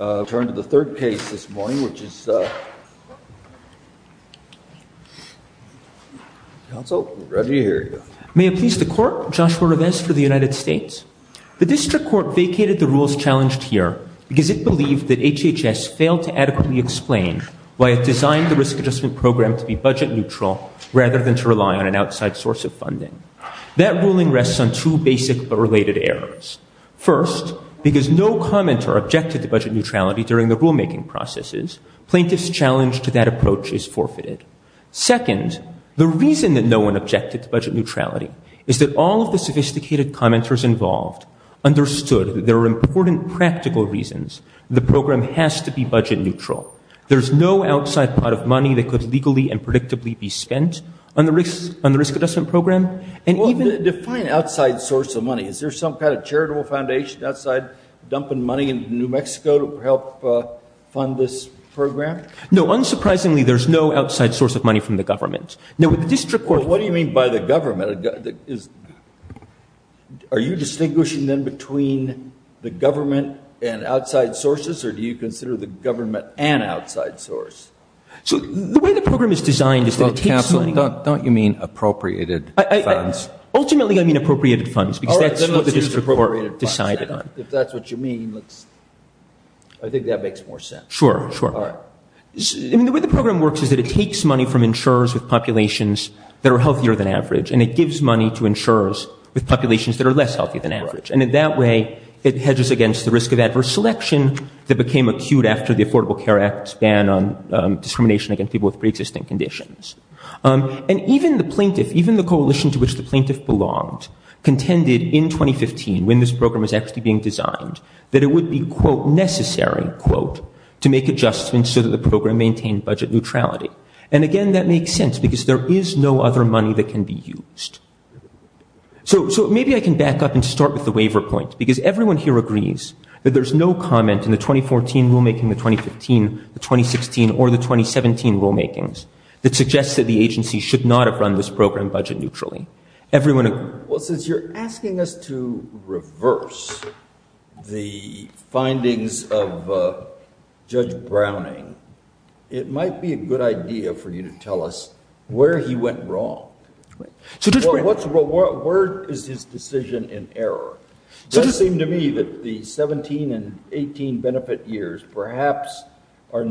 I'll turn to the third case this morning, which is Council. Reggie, here you go. May it please the Court, Joshua Revesz for the United States. The District Court vacated the rules challenged here because it believed that HHS failed to adequately explain why it designed the risk adjustment program to be budget neutral rather than to rely on an outside source of funding. That ruling rests on two basic but related errors. First, because no commenter objected to budget neutrality during the rulemaking processes, plaintiff's challenge to that approach is forfeited. Second, the reason that no one objected to budget neutrality is that all of the sophisticated commenters involved understood that there are important practical reasons the program has to be budget neutral. There's no outside pot of money that could legally and predictably be spent on the risk adjustment program. And even- Define outside source of money. Is there some kind of charitable foundation outside dumping money into New Mexico to help fund this program? No. Unsurprisingly, there's no outside source of money from the government. Now, with the District Court- Well, what do you mean by the government? Is- Are you distinguishing, then, between the government and outside sources, or do you consider the government an outside source? So, the way the program is designed is that it takes money- Don't you mean appropriated funds? Ultimately, I mean appropriated funds, because that's what the District Court decided on. If that's what you mean, let's- I think that makes more sense. Sure, sure. All right. I mean, the way the program works is that it takes money from insurers with populations that are healthier than average, and it gives money to insurers with populations that are less healthy than average. And in that way, it hedges against the risk of adverse selection that became acute after the Affordable Care Act's ban on discrimination against people with preexisting conditions. And even the plaintiff, even the coalition to which the plaintiff belonged, contended in 2015, when this program was actually being designed, that it would be, quote, necessary, quote, to make adjustments so that the program maintained budget neutrality. And again, that makes sense, because there is no other money that can be used. So, maybe I can back up and start with the waiver point, because everyone here agrees that there's no comment in the 2014 rulemaking, the 2015, the 2016, or the 2017 rulemakings that suggests that the agency should not have run this program budget neutrally. Everyone agrees. Well, since you're asking us to reverse the findings of Judge Browning, it might be a good idea for you to tell us where he went wrong. Right. So, Judge Browning. Where is his decision in error? Does it seem to me that the 17 and 18 benefit years perhaps So,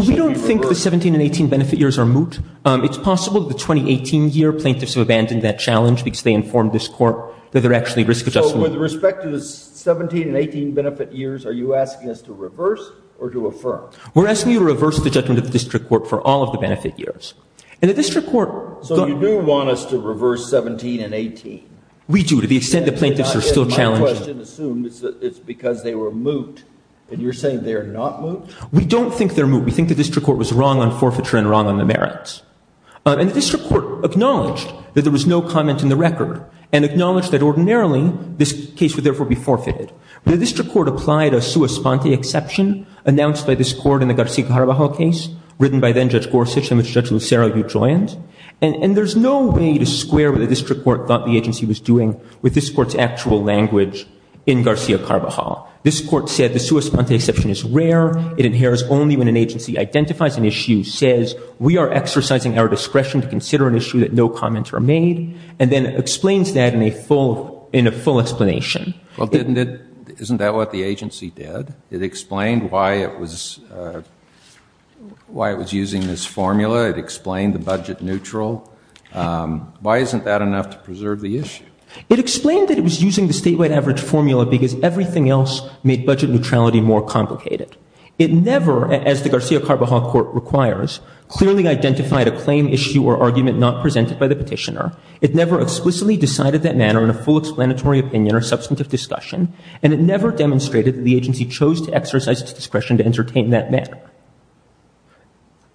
we don't think the 17 and 18 benefit years are moot. It's possible that the 2018 year plaintiffs have abandoned that challenge because they informed this court that there are actually risk adjustments. So, with respect to the 17 and 18 benefit years, are you asking us to reverse or to affirm? We're asking you to reverse the judgment of the district court for all of the benefit years. And the district court... So, you do want us to reverse 17 and 18? We do, to the extent that plaintiffs are still challenged. I guess my question assumes it's because they were moot, and you're saying they're not moot? We don't think they're moot. We think the district court was wrong on forfeiture and wrong on the merits. And the district court acknowledged that there was no comment in the record and acknowledged that ordinarily this case would therefore be forfeited. The district court applied a sua sponte exception announced by this court in the Garcia-Carvajal case, written by then Judge Gorsuch, in which Judge Lucero, you joined. And there's no way to square what the district court thought the agency was doing with this court's actual language in Garcia-Carvajal. This court said the sua sponte exception is rare. It inheres only when an agency identifies an issue, says we are exercising our discretion to consider an issue that no comments were made, and then explains that in a full explanation. Well, isn't that what the agency did? It explained why it was using this formula. It explained the budget neutral. Why isn't that enough to preserve the issue? It explained that it was using the statewide average formula because everything else made budget neutrality more complicated. It never, as the Garcia-Carvajal court requires, clearly identified a claim, issue, or argument not presented by the petitioner. It never explicitly decided that manner in a full explanatory opinion or substantive discussion. And it never demonstrated that the agency chose to exercise its discretion to entertain that manner.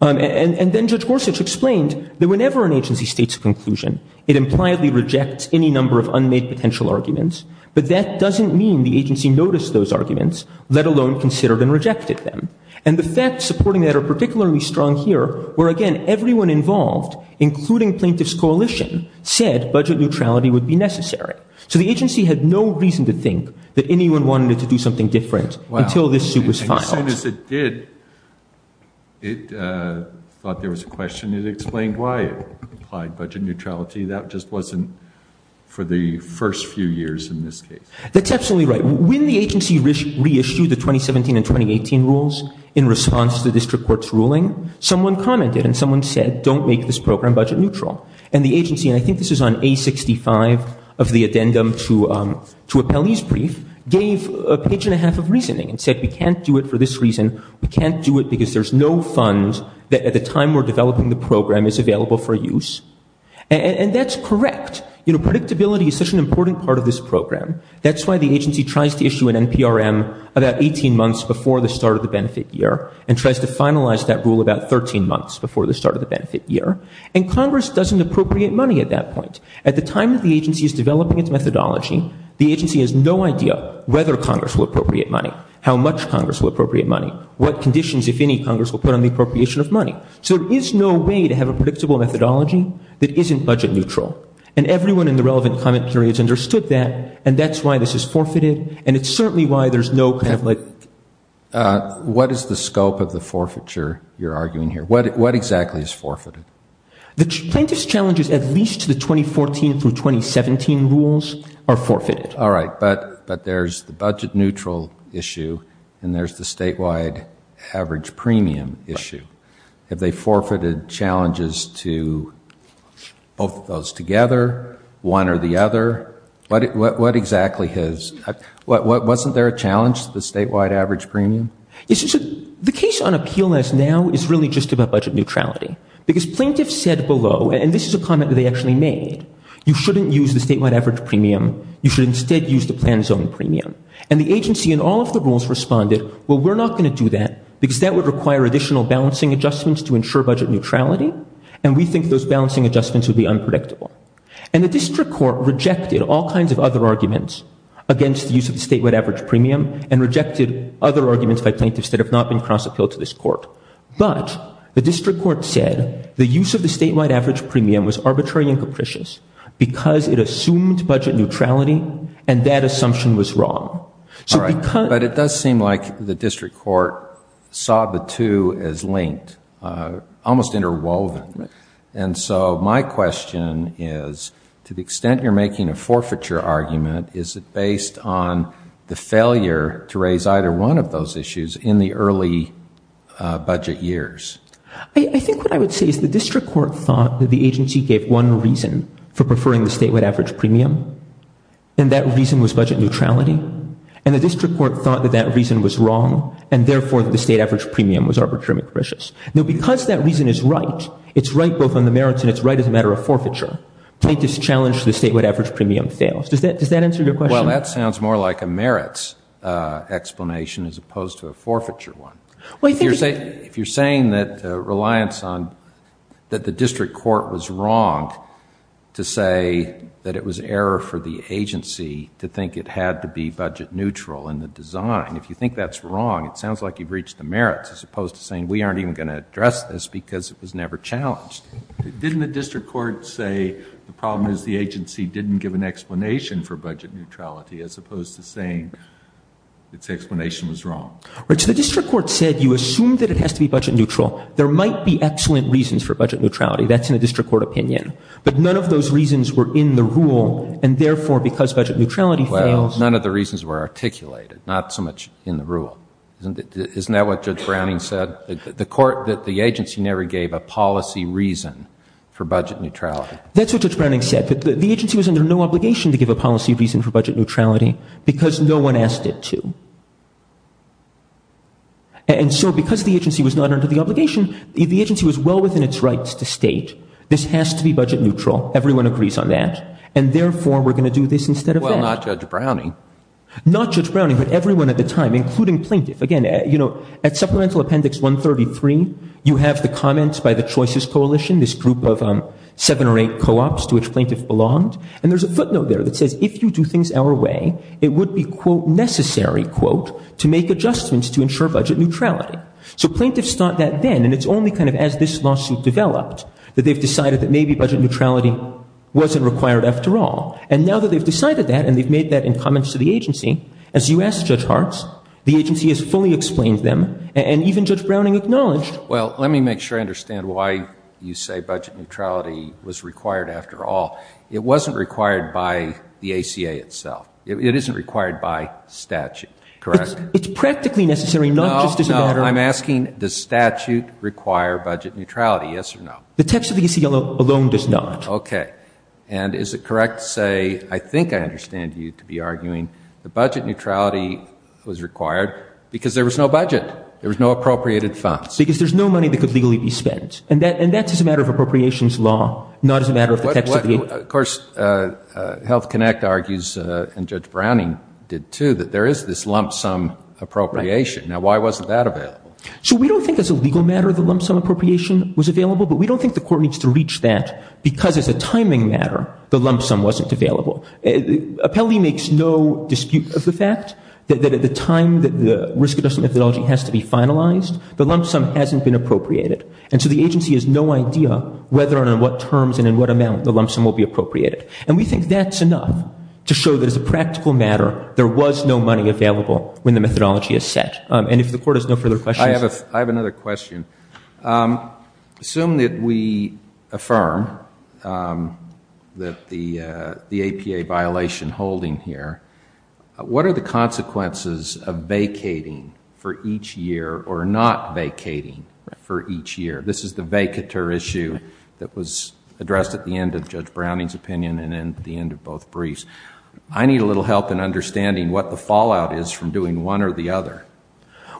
And then Judge Gorsuch explained that whenever an agency states a conclusion, it impliedly rejects any number of unmade potential arguments. But that doesn't mean the agency noticed those arguments, let alone considered and rejected them. And the facts supporting that are particularly strong here, where again, everyone involved, including plaintiff's coalition, said budget neutrality would be necessary. So the agency had no reason to think that anyone wanted to do something different until this suit was filed. As soon as it did, it thought there was a question. It explained why it implied budget neutrality. That just wasn't for the first few years in this case. That's absolutely right. When the agency reissued the 2017 and 2018 rules in response to the district court's ruling, someone commented and someone said don't make this program budget neutral. And the agency, and I think this is on A65 of the addendum to Appellee's Brief, gave a page and a half of reasoning and said we can't do it for this reason. We can't do it because there's no funds that at the time we're developing the program is available for use. And that's correct. You know, predictability is such an important part of this program. That's why the agency tries to issue an NPRM about 18 months before the start of the benefit year and tries to finalize that rule about 13 months before the start of the benefit year. And Congress doesn't appropriate money at that point. At the time that the agency is developing its methodology, the agency has no idea whether Congress will appropriate money, how much Congress will appropriate money, what conditions, if any, Congress will put on the appropriation of money. So there is no way to have a predictable methodology that isn't budget neutral. And everyone in the relevant comment periods understood that and that's why this is forfeited. And it's certainly why there's no kind of like. What is the scope of the forfeiture you're arguing here? What exactly is forfeited? The plaintiff's challenges at least to the 2014 through 2017 rules are forfeited. All right, but there's the budget neutral issue and there's the statewide average premium issue. Have they forfeited challenges to both of those together, one or the other? What exactly is? Wasn't there a challenge to the statewide average premium? The case on appeal as now is really just about budget neutrality. Because plaintiffs said below, and this is a comment that they actually made, you shouldn't use the statewide average premium. You should instead use the plan zone premium. And the agency in all of the rules responded, well, we're not going to do that because that would require additional balancing adjustments to ensure budget neutrality. And we think those balancing adjustments would be unpredictable. And the district court rejected all kinds of other arguments against the use of the statewide average premium and rejected other arguments by plaintiffs that have not been cross-appealed to this court. But the district court said the use of the statewide average premium was arbitrary and capricious because it assumed budget neutrality and that assumption was wrong. All right, but it does seem like the district court saw the two as linked, almost interwoven. And so my question is, to the extent you're making a forfeiture argument, is it based on the failure to raise either one of those issues in the early budget years? I think what I would say is the district court thought that the agency gave one reason for preferring the statewide average premium. And that reason was budget neutrality. And the district court thought that that reason was wrong and therefore the state average premium was arbitrary and capricious. Now because that reason is right, it's right both on the merits and it's right as a matter of forfeiture, plaintiffs challenge the statewide average premium fails. Does that answer your question? Well, that sounds more like a merits explanation as opposed to a forfeiture one. If you're saying that reliance on, that the district court was wrong to say that it was error for the agency to think it had to be budget neutral in the design, if you think that's wrong, it sounds like you've reached the merits as opposed to saying we aren't even going to address this because it was never challenged. Didn't the district court say the problem is the agency didn't give an explanation for budget neutrality as opposed to saying its explanation was wrong? Rich, the district court said you assumed that it has to be budget neutral. There might be excellent reasons for budget neutrality. That's in a district court opinion. But none of those reasons were in the rule and therefore because budget neutrality fails. None of the reasons were articulated, not so much in the rule. Isn't that what Judge Browning said? The court, that the agency never gave a policy reason for budget neutrality. That's what Judge Browning said. The agency was under no obligation to give a policy reason for budget neutrality because no one asked it to. And so because the agency was not under the obligation, the agency was well within its rights to state this has to be budget neutral. Everyone agrees on that. And therefore, we're going to do this instead of that. Well, not Judge Browning. Not Judge Browning, but everyone at the time, including plaintiff. Again, you know, at Supplemental Appendix 133, you have the comments by the Choices Coalition. This group of seven or eight co-ops to which plaintiff belonged. And there's a footnote there that says if you do things our way, it would be, quote, necessary, quote, to make adjustments to ensure budget neutrality. So plaintiffs thought that then. And it's only kind of as this lawsuit developed that they've decided that maybe budget neutrality wasn't required after all. And now that they've decided that and they've made that in comments to the agency, as you asked Judge Hartz, the agency has fully explained them. And even Judge Browning acknowledged. Well, let me make sure I understand why you say budget neutrality was required after all. It wasn't required by the ACA itself. It isn't required by statute, correct? It's practically necessary, not just as a matter of. No, no. I'm asking does statute require budget neutrality, yes or no? The text of the ACA alone does not. Okay. And is it correct to say, I think I understand you to be arguing that budget neutrality was required because there was no budget. There was no appropriated funds. Because there's no money that could legally be spent. And that's as a matter of appropriations law, not as a matter of the text of the ACA. Of course, Health Connect argues, and Judge Browning did, too, that there is this lump sum appropriation. Now, why wasn't that available? So we don't think as a legal matter the lump sum appropriation was available, but we don't think the court needs to reach that because as a timing matter the lump sum wasn't available. Appellee makes no dispute of the fact that at the time that the risk-adjustment methodology has to be finalized, the lump sum hasn't been appropriated. And so the agency has no idea whether and on what terms and in what amount the lump sum will be appropriated. And we think that's enough to show that as a practical matter there was no money available when the methodology is set. And if the court has no further questions. I have another question. Assume that we affirm that the APA violation holding here, what are the consequences of vacating for each year or not vacating for each year? This is the vacater issue that was addressed at the end of Judge Browning's opinion and at the end of both briefs. I need a little help in understanding what the fallout is from doing one or the other.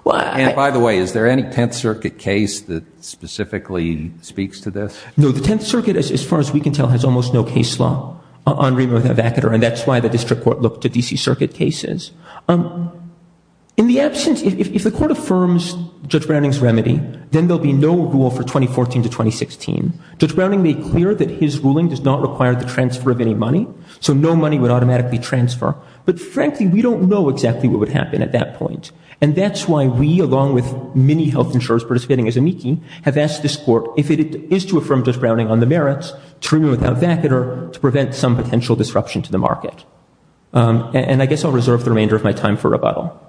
And by the way, is there any Tenth Circuit case that specifically speaks to this? No, the Tenth Circuit as far as we can tell has almost no case law on removal of the vacater. And that's why the district court looked at D.C. Circuit cases. In the absence, if the court affirms Judge Browning's remedy, then there'll be no rule for 2014 to 2016. Judge Browning made clear that his ruling does not require the transfer of any money. So no money would automatically transfer. But frankly, we don't know exactly what would happen at that point. And that's why we along with many health insurers participating as amici have asked this court if it is to affirm Judge Browning on the merits to remove the vacater to prevent some potential disruption to the market. And I guess I'll reserve the remainder of my time for rebuttal.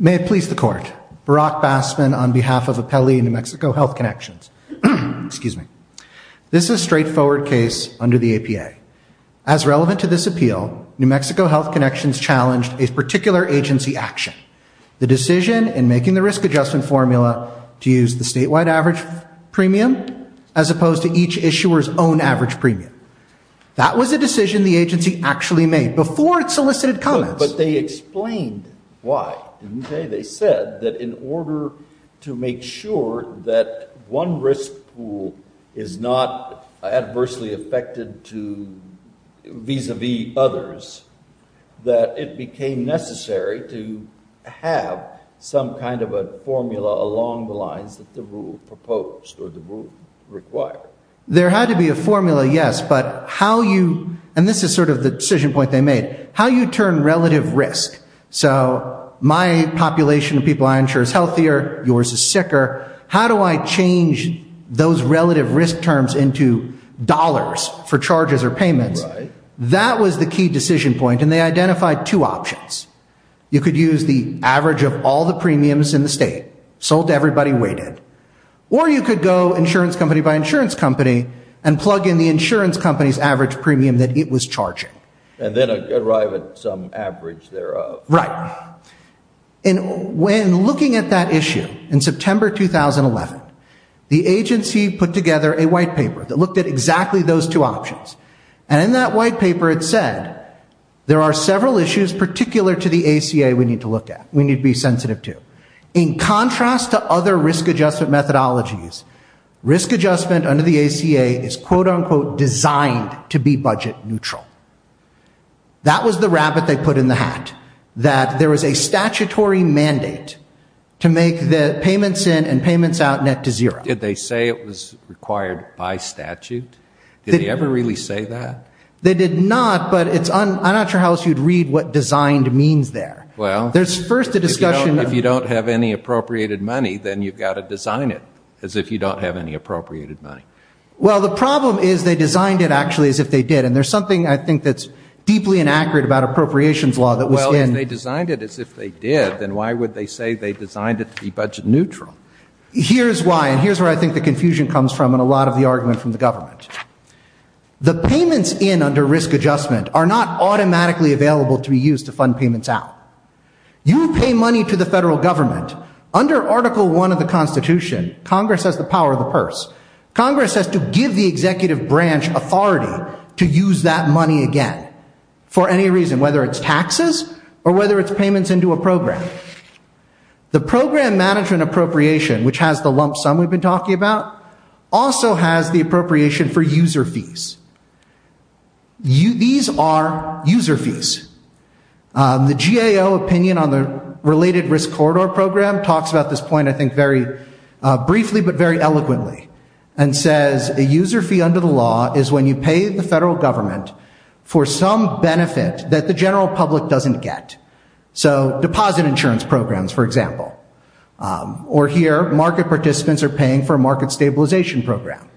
May it please the court. Barack Bassman on behalf of Apelli in New Mexico Health Connections. Excuse me. This is a straightforward case under the APA. As relevant to this appeal, New Mexico Health Connections challenged a particular agency action. The decision in making the risk adjustment formula to use the statewide average premium as opposed to each issuer's own average premium. That was a decision the agency actually made before it solicited comments. But they explained why, didn't they? They said that in order to make sure that one risk pool is not adversely affected to vis-a-vis others, that it became necessary to have some kind of a formula along the lines that the rule proposed or the rule required. There had to be a formula, yes. But how you, and this is sort of the decision point they made, how you turn relative risk. So my population of people I insure is healthier, yours is sicker. How do I change those relative risk terms into dollars for charges or payments? That was the key decision point. And they identified two options. You could use the average of all the premiums in the state, sold to everybody, waited. Or you could go insurance company by insurance company and plug in the insurance company's average premium that it was charging. And then arrive at some average thereof. Right. And when looking at that issue in September 2011, the agency put together a white paper that looked at exactly those two options. And in that white paper it said there are several issues particular to the ACA we need to look at, we need to be sensitive to. In contrast to other risk adjustment methodologies, risk adjustment under the ACA is quote unquote designed to be budget neutral. That was the rabbit they put in the hat, that there was a statutory mandate to make the payments in and payments out net to zero. Did they say it was required by statute? Did they ever really say that? They did not, but it's, I'm not sure how else you'd read what designed means there. Well. There's first a discussion. If you don't have any appropriated money, then you've got to design it as if you don't have any appropriated money. Well, the problem is they designed it actually as if they did. And there's something I think that's deeply inaccurate about appropriations law that was in. Well, if they designed it as if they did, then why would they say they designed it to be budget neutral? Here's why, and here's where I think the confusion comes from in a lot of the argument from the government. The payments in under risk adjustment are not automatically available to be used to fund payments out. You pay money to the federal government. Under Article I of the Constitution, Congress has the power of the purse. Congress has to give the executive branch authority to use that money again for any reason, whether it's taxes or whether it's payments into a program. The program management appropriation, which has the lump sum we've been talking about, also has the appropriation for user fees. These are user fees. The GAO opinion on the related risk corridor program talks about this point, I think, very briefly but very eloquently and says a user fee under the law is when you pay the federal government for some benefit that the general public doesn't get. So deposit insurance programs, for example. Or here, market participants are paying for a market stabilization program.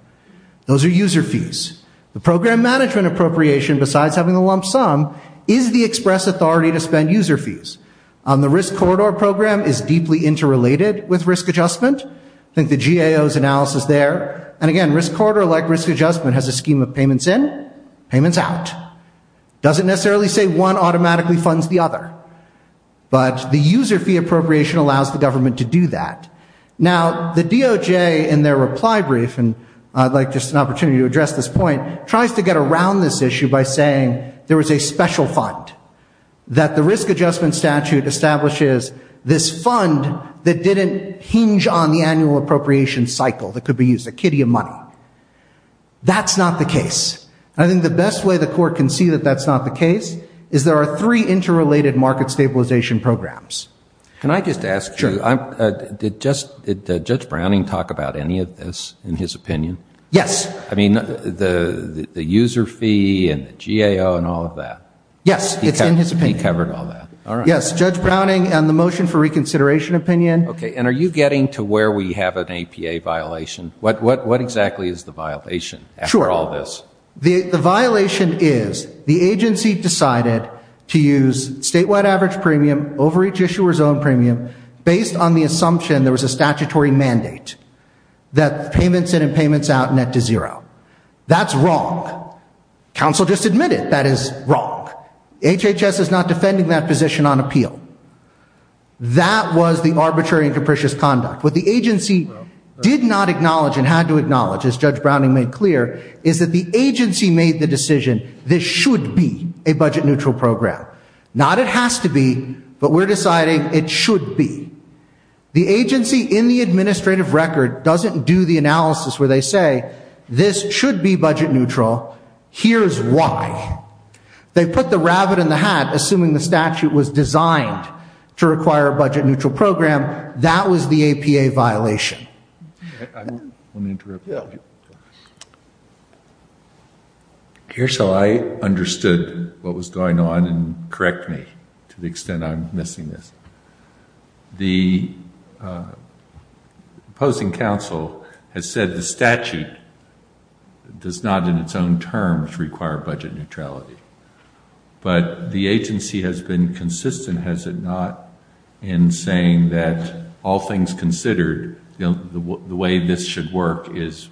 Those are user fees. The program management appropriation, besides having the lump sum, is the express authority to spend user fees. The risk corridor program is deeply interrelated with risk adjustment. I think the GAO's analysis there. And again, risk corridor, like risk adjustment, has a scheme of payments in, payments out. Doesn't necessarily say one automatically funds the other. But the user fee appropriation allows the government to do that. Now, the DOJ, in their reply brief, and I'd like just an opportunity to address this point, tries to get around this issue by saying there was a special fund. That the risk adjustment statute establishes this fund that didn't hinge on the annual appropriation cycle that could be used as a kiddie of money. That's not the case. I think the best way the court can see that that's not the case is there are three interrelated market stabilization programs. Can I just ask you, did Judge Browning talk about any of this in his opinion? Yes. I mean, the user fee and the GAO and all of that. Yes. It's in his opinion. He covered all that. All right. Yes. Judge Browning and the motion for reconsideration opinion. Okay. And are you getting to where we have an APA violation? What exactly is the violation after all this? Sure. The violation is the agency decided to use statewide average premium over each issuer's own premium based on the assumption there was a statutory mandate that payments in and payments out net to zero. That's wrong. Council just admitted that is wrong. HHS is not defending that position on appeal. That was the arbitrary and capricious conduct. What the agency did not acknowledge and had to acknowledge, as Judge Browning made clear, is that the agency made the decision this should be a budget neutral program. Not it has to be, but we're deciding it should be. The agency in the administrative record doesn't do the analysis where they say this should be budget neutral. Here's why. They put the rabbit in the hat assuming the statute was designed to require a budget neutral program. That was the APA violation. Let me interrupt you. Here's how I understood what was going on and correct me to the extent I'm missing this. The opposing council has said the statute does not in its own terms require budget neutrality. But the agency has been consistent, has it not, in saying that all things considered, the way this should work is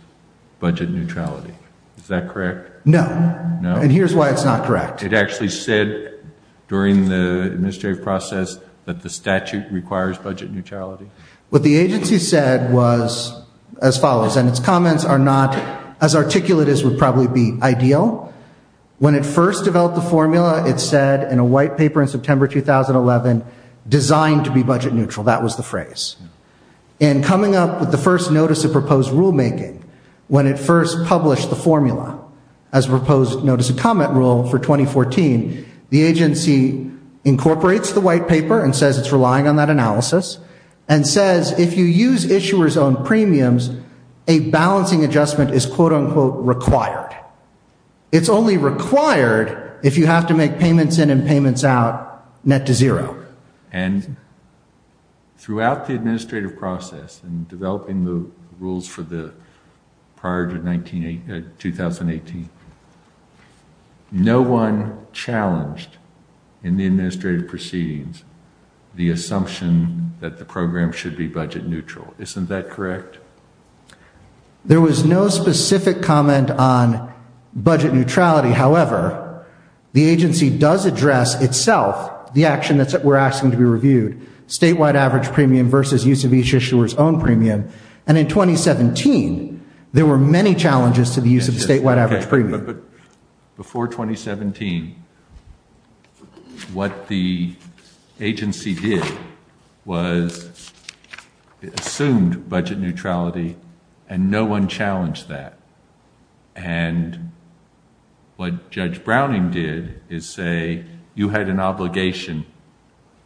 budget neutrality. Is that correct? No. And here's why it's not correct. It actually said during the administrative process that the statute requires budget neutrality. What the agency said was as follows. And its comments are not as articulate as would probably be ideal. When it first developed the formula, it said in a white paper in September 2011, designed to be budget neutral. That was the phrase. And coming up with the first notice of proposed rulemaking when it first published the formula as proposed notice of comment rule for 2014, the agency incorporates the white paper and says it's relying on that analysis. And says if you use issuers' own premiums, a balancing adjustment is quote unquote required. It's only required if you have to make payments in and payments out net to zero. And throughout the administrative process and developing the rules for the prior to 2018, no one challenged in the administrative proceedings the assumption that the program should be budget neutral. Isn't that correct? There was no specific comment on budget neutrality. However, the agency does address itself the action that we're asking to be reviewed. Statewide average premium versus use of each issuer's own premium. And in 2017, there were many challenges to the use of statewide average premium. Before 2017, what the agency did was assumed budget neutrality and no one challenged that. And what Judge Browning did is say you had an obligation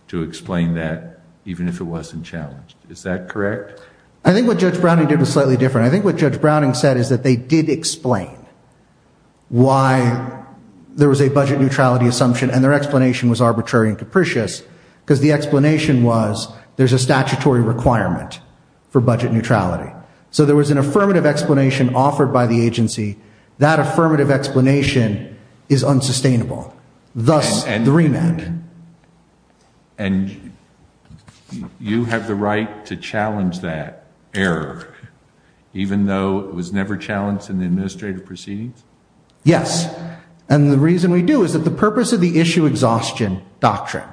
to explain that even if it wasn't challenged. Is that correct? I think what Judge Browning did was slightly different. I think what Judge Browning said is that they did explain why there was a budget neutrality assumption and their explanation was arbitrary and capricious because the explanation was there's a statutory requirement for budget neutrality. So there was an affirmative explanation offered by the agency. That affirmative explanation is unsustainable. Thus, the remand. And you have the right to challenge that error, even though it was never challenged in the administrative proceedings? Yes. And the reason we do is that the purpose of the issue exhaustion doctrine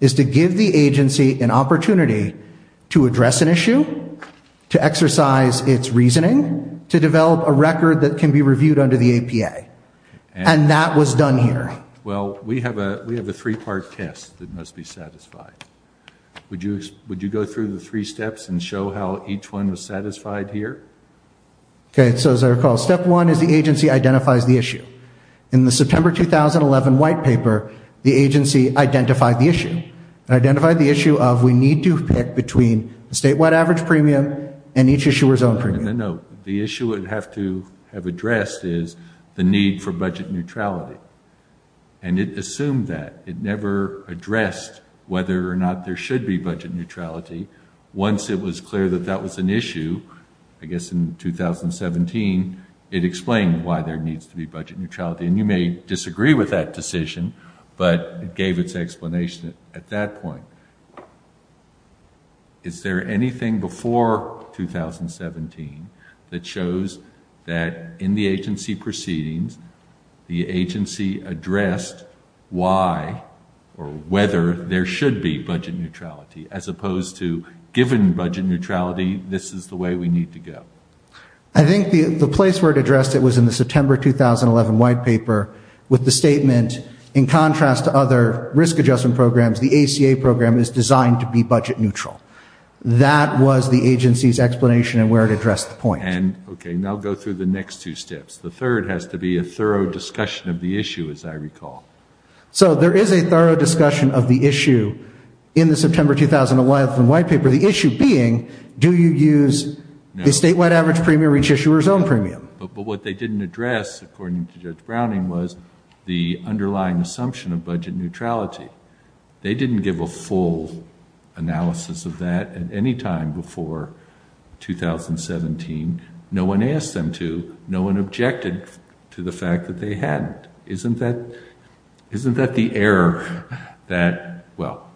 is to give the agency an opportunity to address an issue, to exercise its reasoning, to develop a record that can be reviewed under the APA. And that was done here. Well, we have a three-part test that must be satisfied. Would you go through the three steps and show how each one was satisfied here? Okay. So as I recall, step one is the agency identifies the issue. In the September 2011 white paper, the agency identified the issue. It identified the issue of we need to pick between the statewide average premium and each issuer's own premium. No. The issue it would have to have addressed is the need for budget neutrality. And it assumed that. It never addressed whether or not there should be budget neutrality. Once it was clear that that was an issue, I guess in 2017, it explained why there needs to be budget neutrality. And you may disagree with that decision, but it gave its explanation at that point. Is there anything before 2017 that shows that in the agency proceedings, the agency addressed why or whether there should be budget neutrality as opposed to given budget neutrality, this is the way we need to go? I think the place where it addressed it was in the September 2011 white paper with the statement in contrast to other risk adjustment programs, the ACA program is designed to be budget neutral. That was the agency's explanation and where it addressed the point. And okay, now go through the next two steps. The third has to be a thorough discussion of the issue as I recall. So there is a thorough discussion of the issue in the September 2011 white paper, the issue being do you use the statewide average premium each issuer's own premium? But what they didn't address according to Judge Browning was the underlying assumption of budget neutrality. They didn't give a full analysis of that at any time before 2017. No one asked them to, no one objected to the fact that they had. Isn't that the error that, well,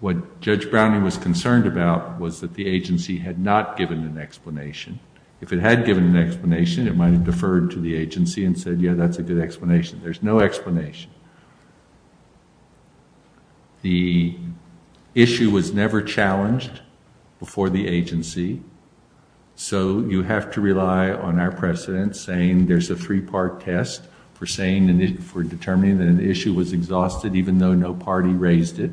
what Judge Browning was concerned about was that the agency had not given an explanation. If it had given an explanation, it might have deferred to the agency and said, yeah, that's a good explanation. There's no explanation. The issue was never challenged before the agency. So you have to rely on our precedent saying there's a three-part test for saying, for determining that an issue was exhausted even though no party raised it.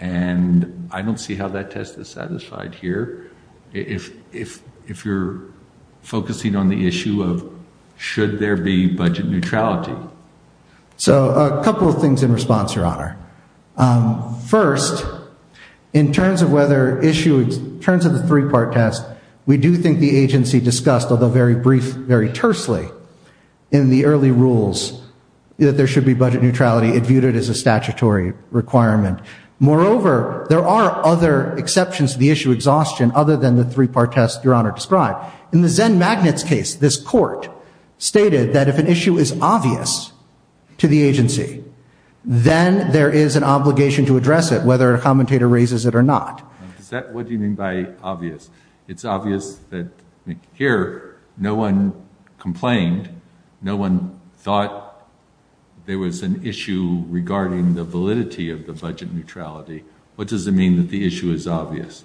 And I don't see how that test is satisfied here. If you're focusing on the issue of should there be budget neutrality. So a couple of things in response, Your Honor. First, in terms of whether issue, in terms of the three-part test, we do think the agency discussed, although very brief, very tersely in the early rules that there should be budget neutrality. It viewed it as a statutory requirement. Moreover, there are other exceptions to the issue exhaustion other than the three-part test Your Honor described. In the Zen Magnets case, this court stated that if an issue is obvious to the agency, then there is an obligation to address it, whether a commentator raises it or not. Is that, what do you mean by obvious? It's obvious that here no one complained, no one thought there was an issue regarding the validity of the budget neutrality. What does it mean that the issue is obvious?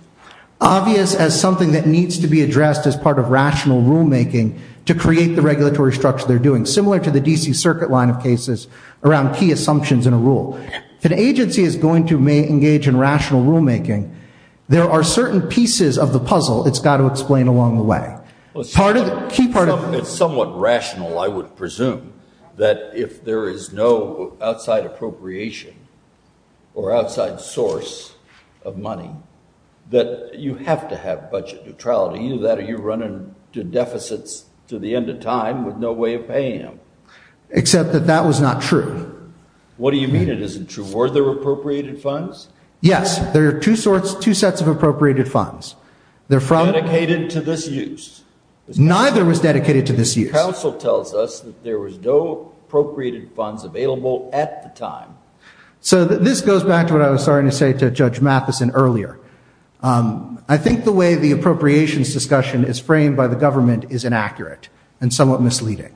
Obvious as something that needs to be addressed as part of rational rulemaking to create the regulatory structure they're doing, similar to the DC Circuit line of cases around key assumptions in a rule. If an agency is going to engage in rational rulemaking, there are certain pieces of the puzzle it's got to explain along the way. It's somewhat rational, I would presume, that if there is no outside appropriation or outside source of money, that you have to have budget neutrality. Either that or you're running to deficits to the end of time with no way of paying them. Except that that was not true. What do you mean it isn't true? Were there appropriated funds? Yes, there are two sorts, two sets of appropriated funds. They're from. Dedicated to this use. Neither was dedicated to this use. The counsel tells us that there was no appropriated funds available at the time. So this goes back to what I was starting to say to Judge Matheson earlier. I think the way the appropriations discussion is framed by the government is inaccurate and somewhat misleading.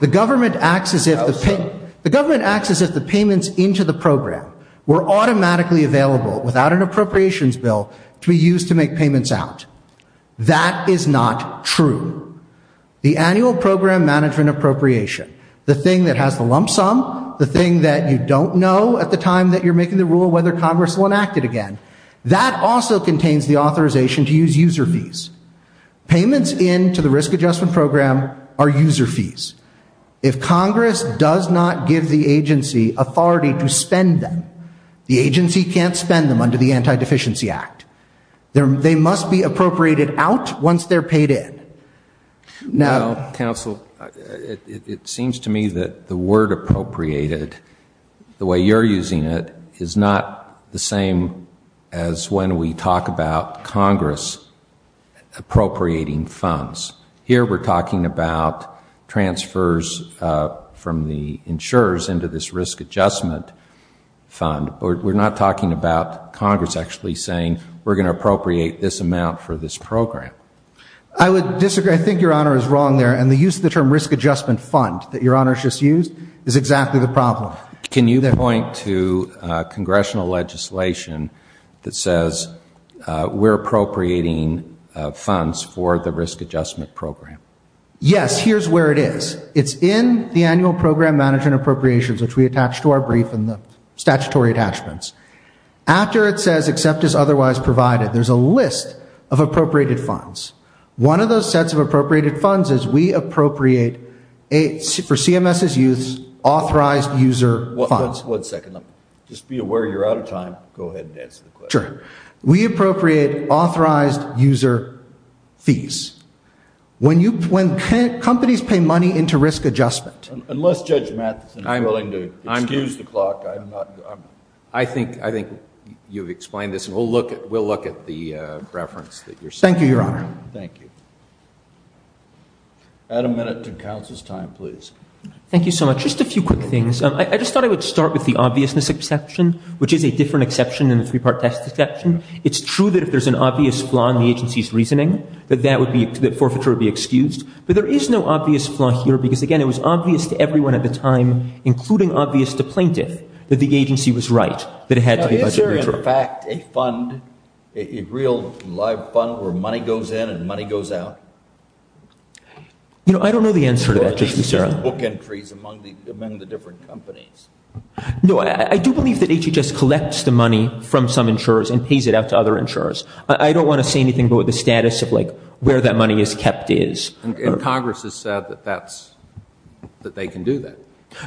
The government acts as if the payments into the program were automatically available without an appropriations bill to be used to make payments out. That is not true. The annual program management appropriation, the thing that has the lump sum, the thing that you don't know at the time that you're making the rule whether Congress will enact it again, that also contains the authorization to use user fees. Payments into the risk adjustment program are user fees. If Congress does not give the agency authority to spend them, the agency can't spend them under the Anti-Deficiency Act. They must be appropriated out once they're paid in. Now, Counsel, it seems to me that the word appropriated, the way you're using it, is not the same as when we talk about Congress appropriating funds. Here we're talking about transfers from the insurers into this risk adjustment fund. We're not talking about Congress actually saying we're going to appropriate this amount for this program. I would disagree. I think Your Honor is wrong there. And the use of the term risk adjustment fund that Your Honor has just used is exactly the problem. Can you point to congressional legislation that says we're appropriating funds for the risk adjustment program? Yes. Here's where it is. It's in the annual program management appropriations which we attach to our brief and the statutory attachments. After it says except as otherwise provided, there's a list of appropriated funds. One of those sets of appropriated funds is we appropriate for CMS's use authorized user funds. One second. Just be aware you're out of time. Go ahead and answer the question. Sure. We appropriate authorized user fees. When companies pay money into risk adjustment. Unless Judge Matheson is willing to excuse the clock, I think you've explained this. We'll look at the reference that you're sending. Thank you, Your Honor. Thank you. Add a minute to counsel's time, please. Thank you so much. Just a few quick things. I just thought I would start with the obviousness exception which is a different exception than the three-part test exception. It's true that if there's an obvious flaw in the agency's reasoning, that forfeiture would be excused. But there is no obvious flaw here because, again, it was obvious to everyone at the time, including obvious to plaintiff, that the agency was right. Is there in fact a fund, a real live fund where money goes in and money goes out? You know, I don't know the answer to that, Justice Serrano. Book entries among the different companies. No, I do believe that HHS collects the money from some insurers and pays it out to other insurers. I don't want to say anything about the status of like where that money is kept is. And Congress has said that that's, that they can do that.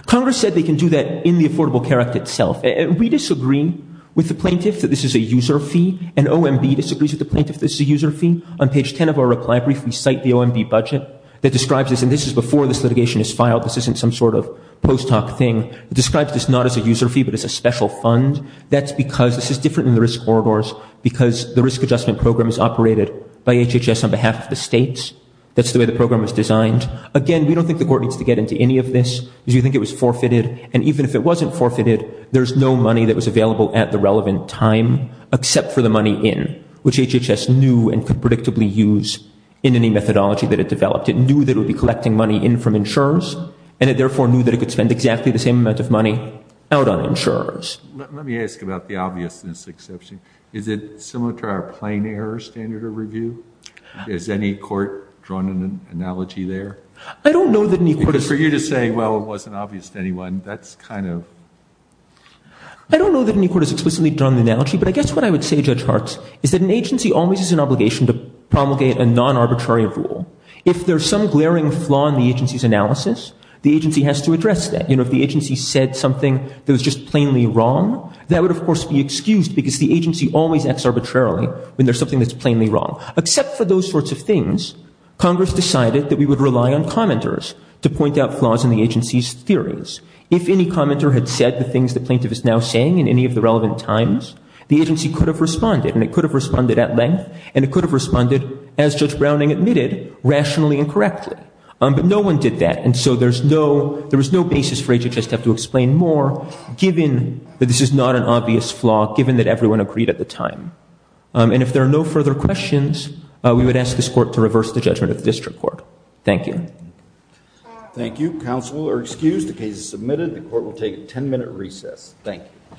Congress said they can do that in the Affordable Care Act itself. And we disagree with the plaintiff that this is a user fee. And OMB disagrees with the plaintiff this is a user fee. On page 10 of our reply brief, we cite the OMB budget that describes this. And this is before this litigation is filed. This isn't some sort of post hoc thing. It describes this not as a user fee, but as a special fund. That's because this is different in the risk corridors because the risk adjustment program is operated by HHS on behalf of the states. That's the way the program was designed. Again, we don't think the court needs to get into any of this because we think it was forfeited. And even if it wasn't forfeited, there's no money that was available at the relevant time except for the money in, which HHS knew and could predictably use in any methodology that it developed. It knew that it would be collecting money in from insurers, and it therefore knew that it could spend exactly the same amount of money out on insurers. Let me ask about the obviousness exception. Is it similar to our plain error standard of review? Has any court drawn an analogy there? I don't know that any court. Because for you to say, well, it wasn't obvious to anyone, that's kind of. I don't know that any court has explicitly drawn an analogy. But I guess what I would say, Judge Hartz, is that an agency always has an obligation to promulgate a non-arbitrary rule. If there's some glaring flaw in the agency's analysis, the agency has to address that. You know, if the agency said something that was just plainly wrong, that would, of course, be excused because the agency always acts arbitrarily when there's something that's plainly wrong. Except for those sorts of things, Congress decided that we would rely on commenters to point out flaws in the agency's theories. If any commenter had said the things the plaintiff is now saying in any of the relevant times, the agency could have responded. And it could have responded at length. And it could have responded, as Judge Browning admitted, rationally and correctly. But no one did that. And so there was no basis for HHS to have to explain more, given that this is not an obvious flaw, given that everyone agreed at the time. And if there are no further questions, we would ask this court to reverse the judgment of the district court. Thank you. Thank you. Counsel are excused. The case is submitted. The court will take a 10-minute recess. Thank you.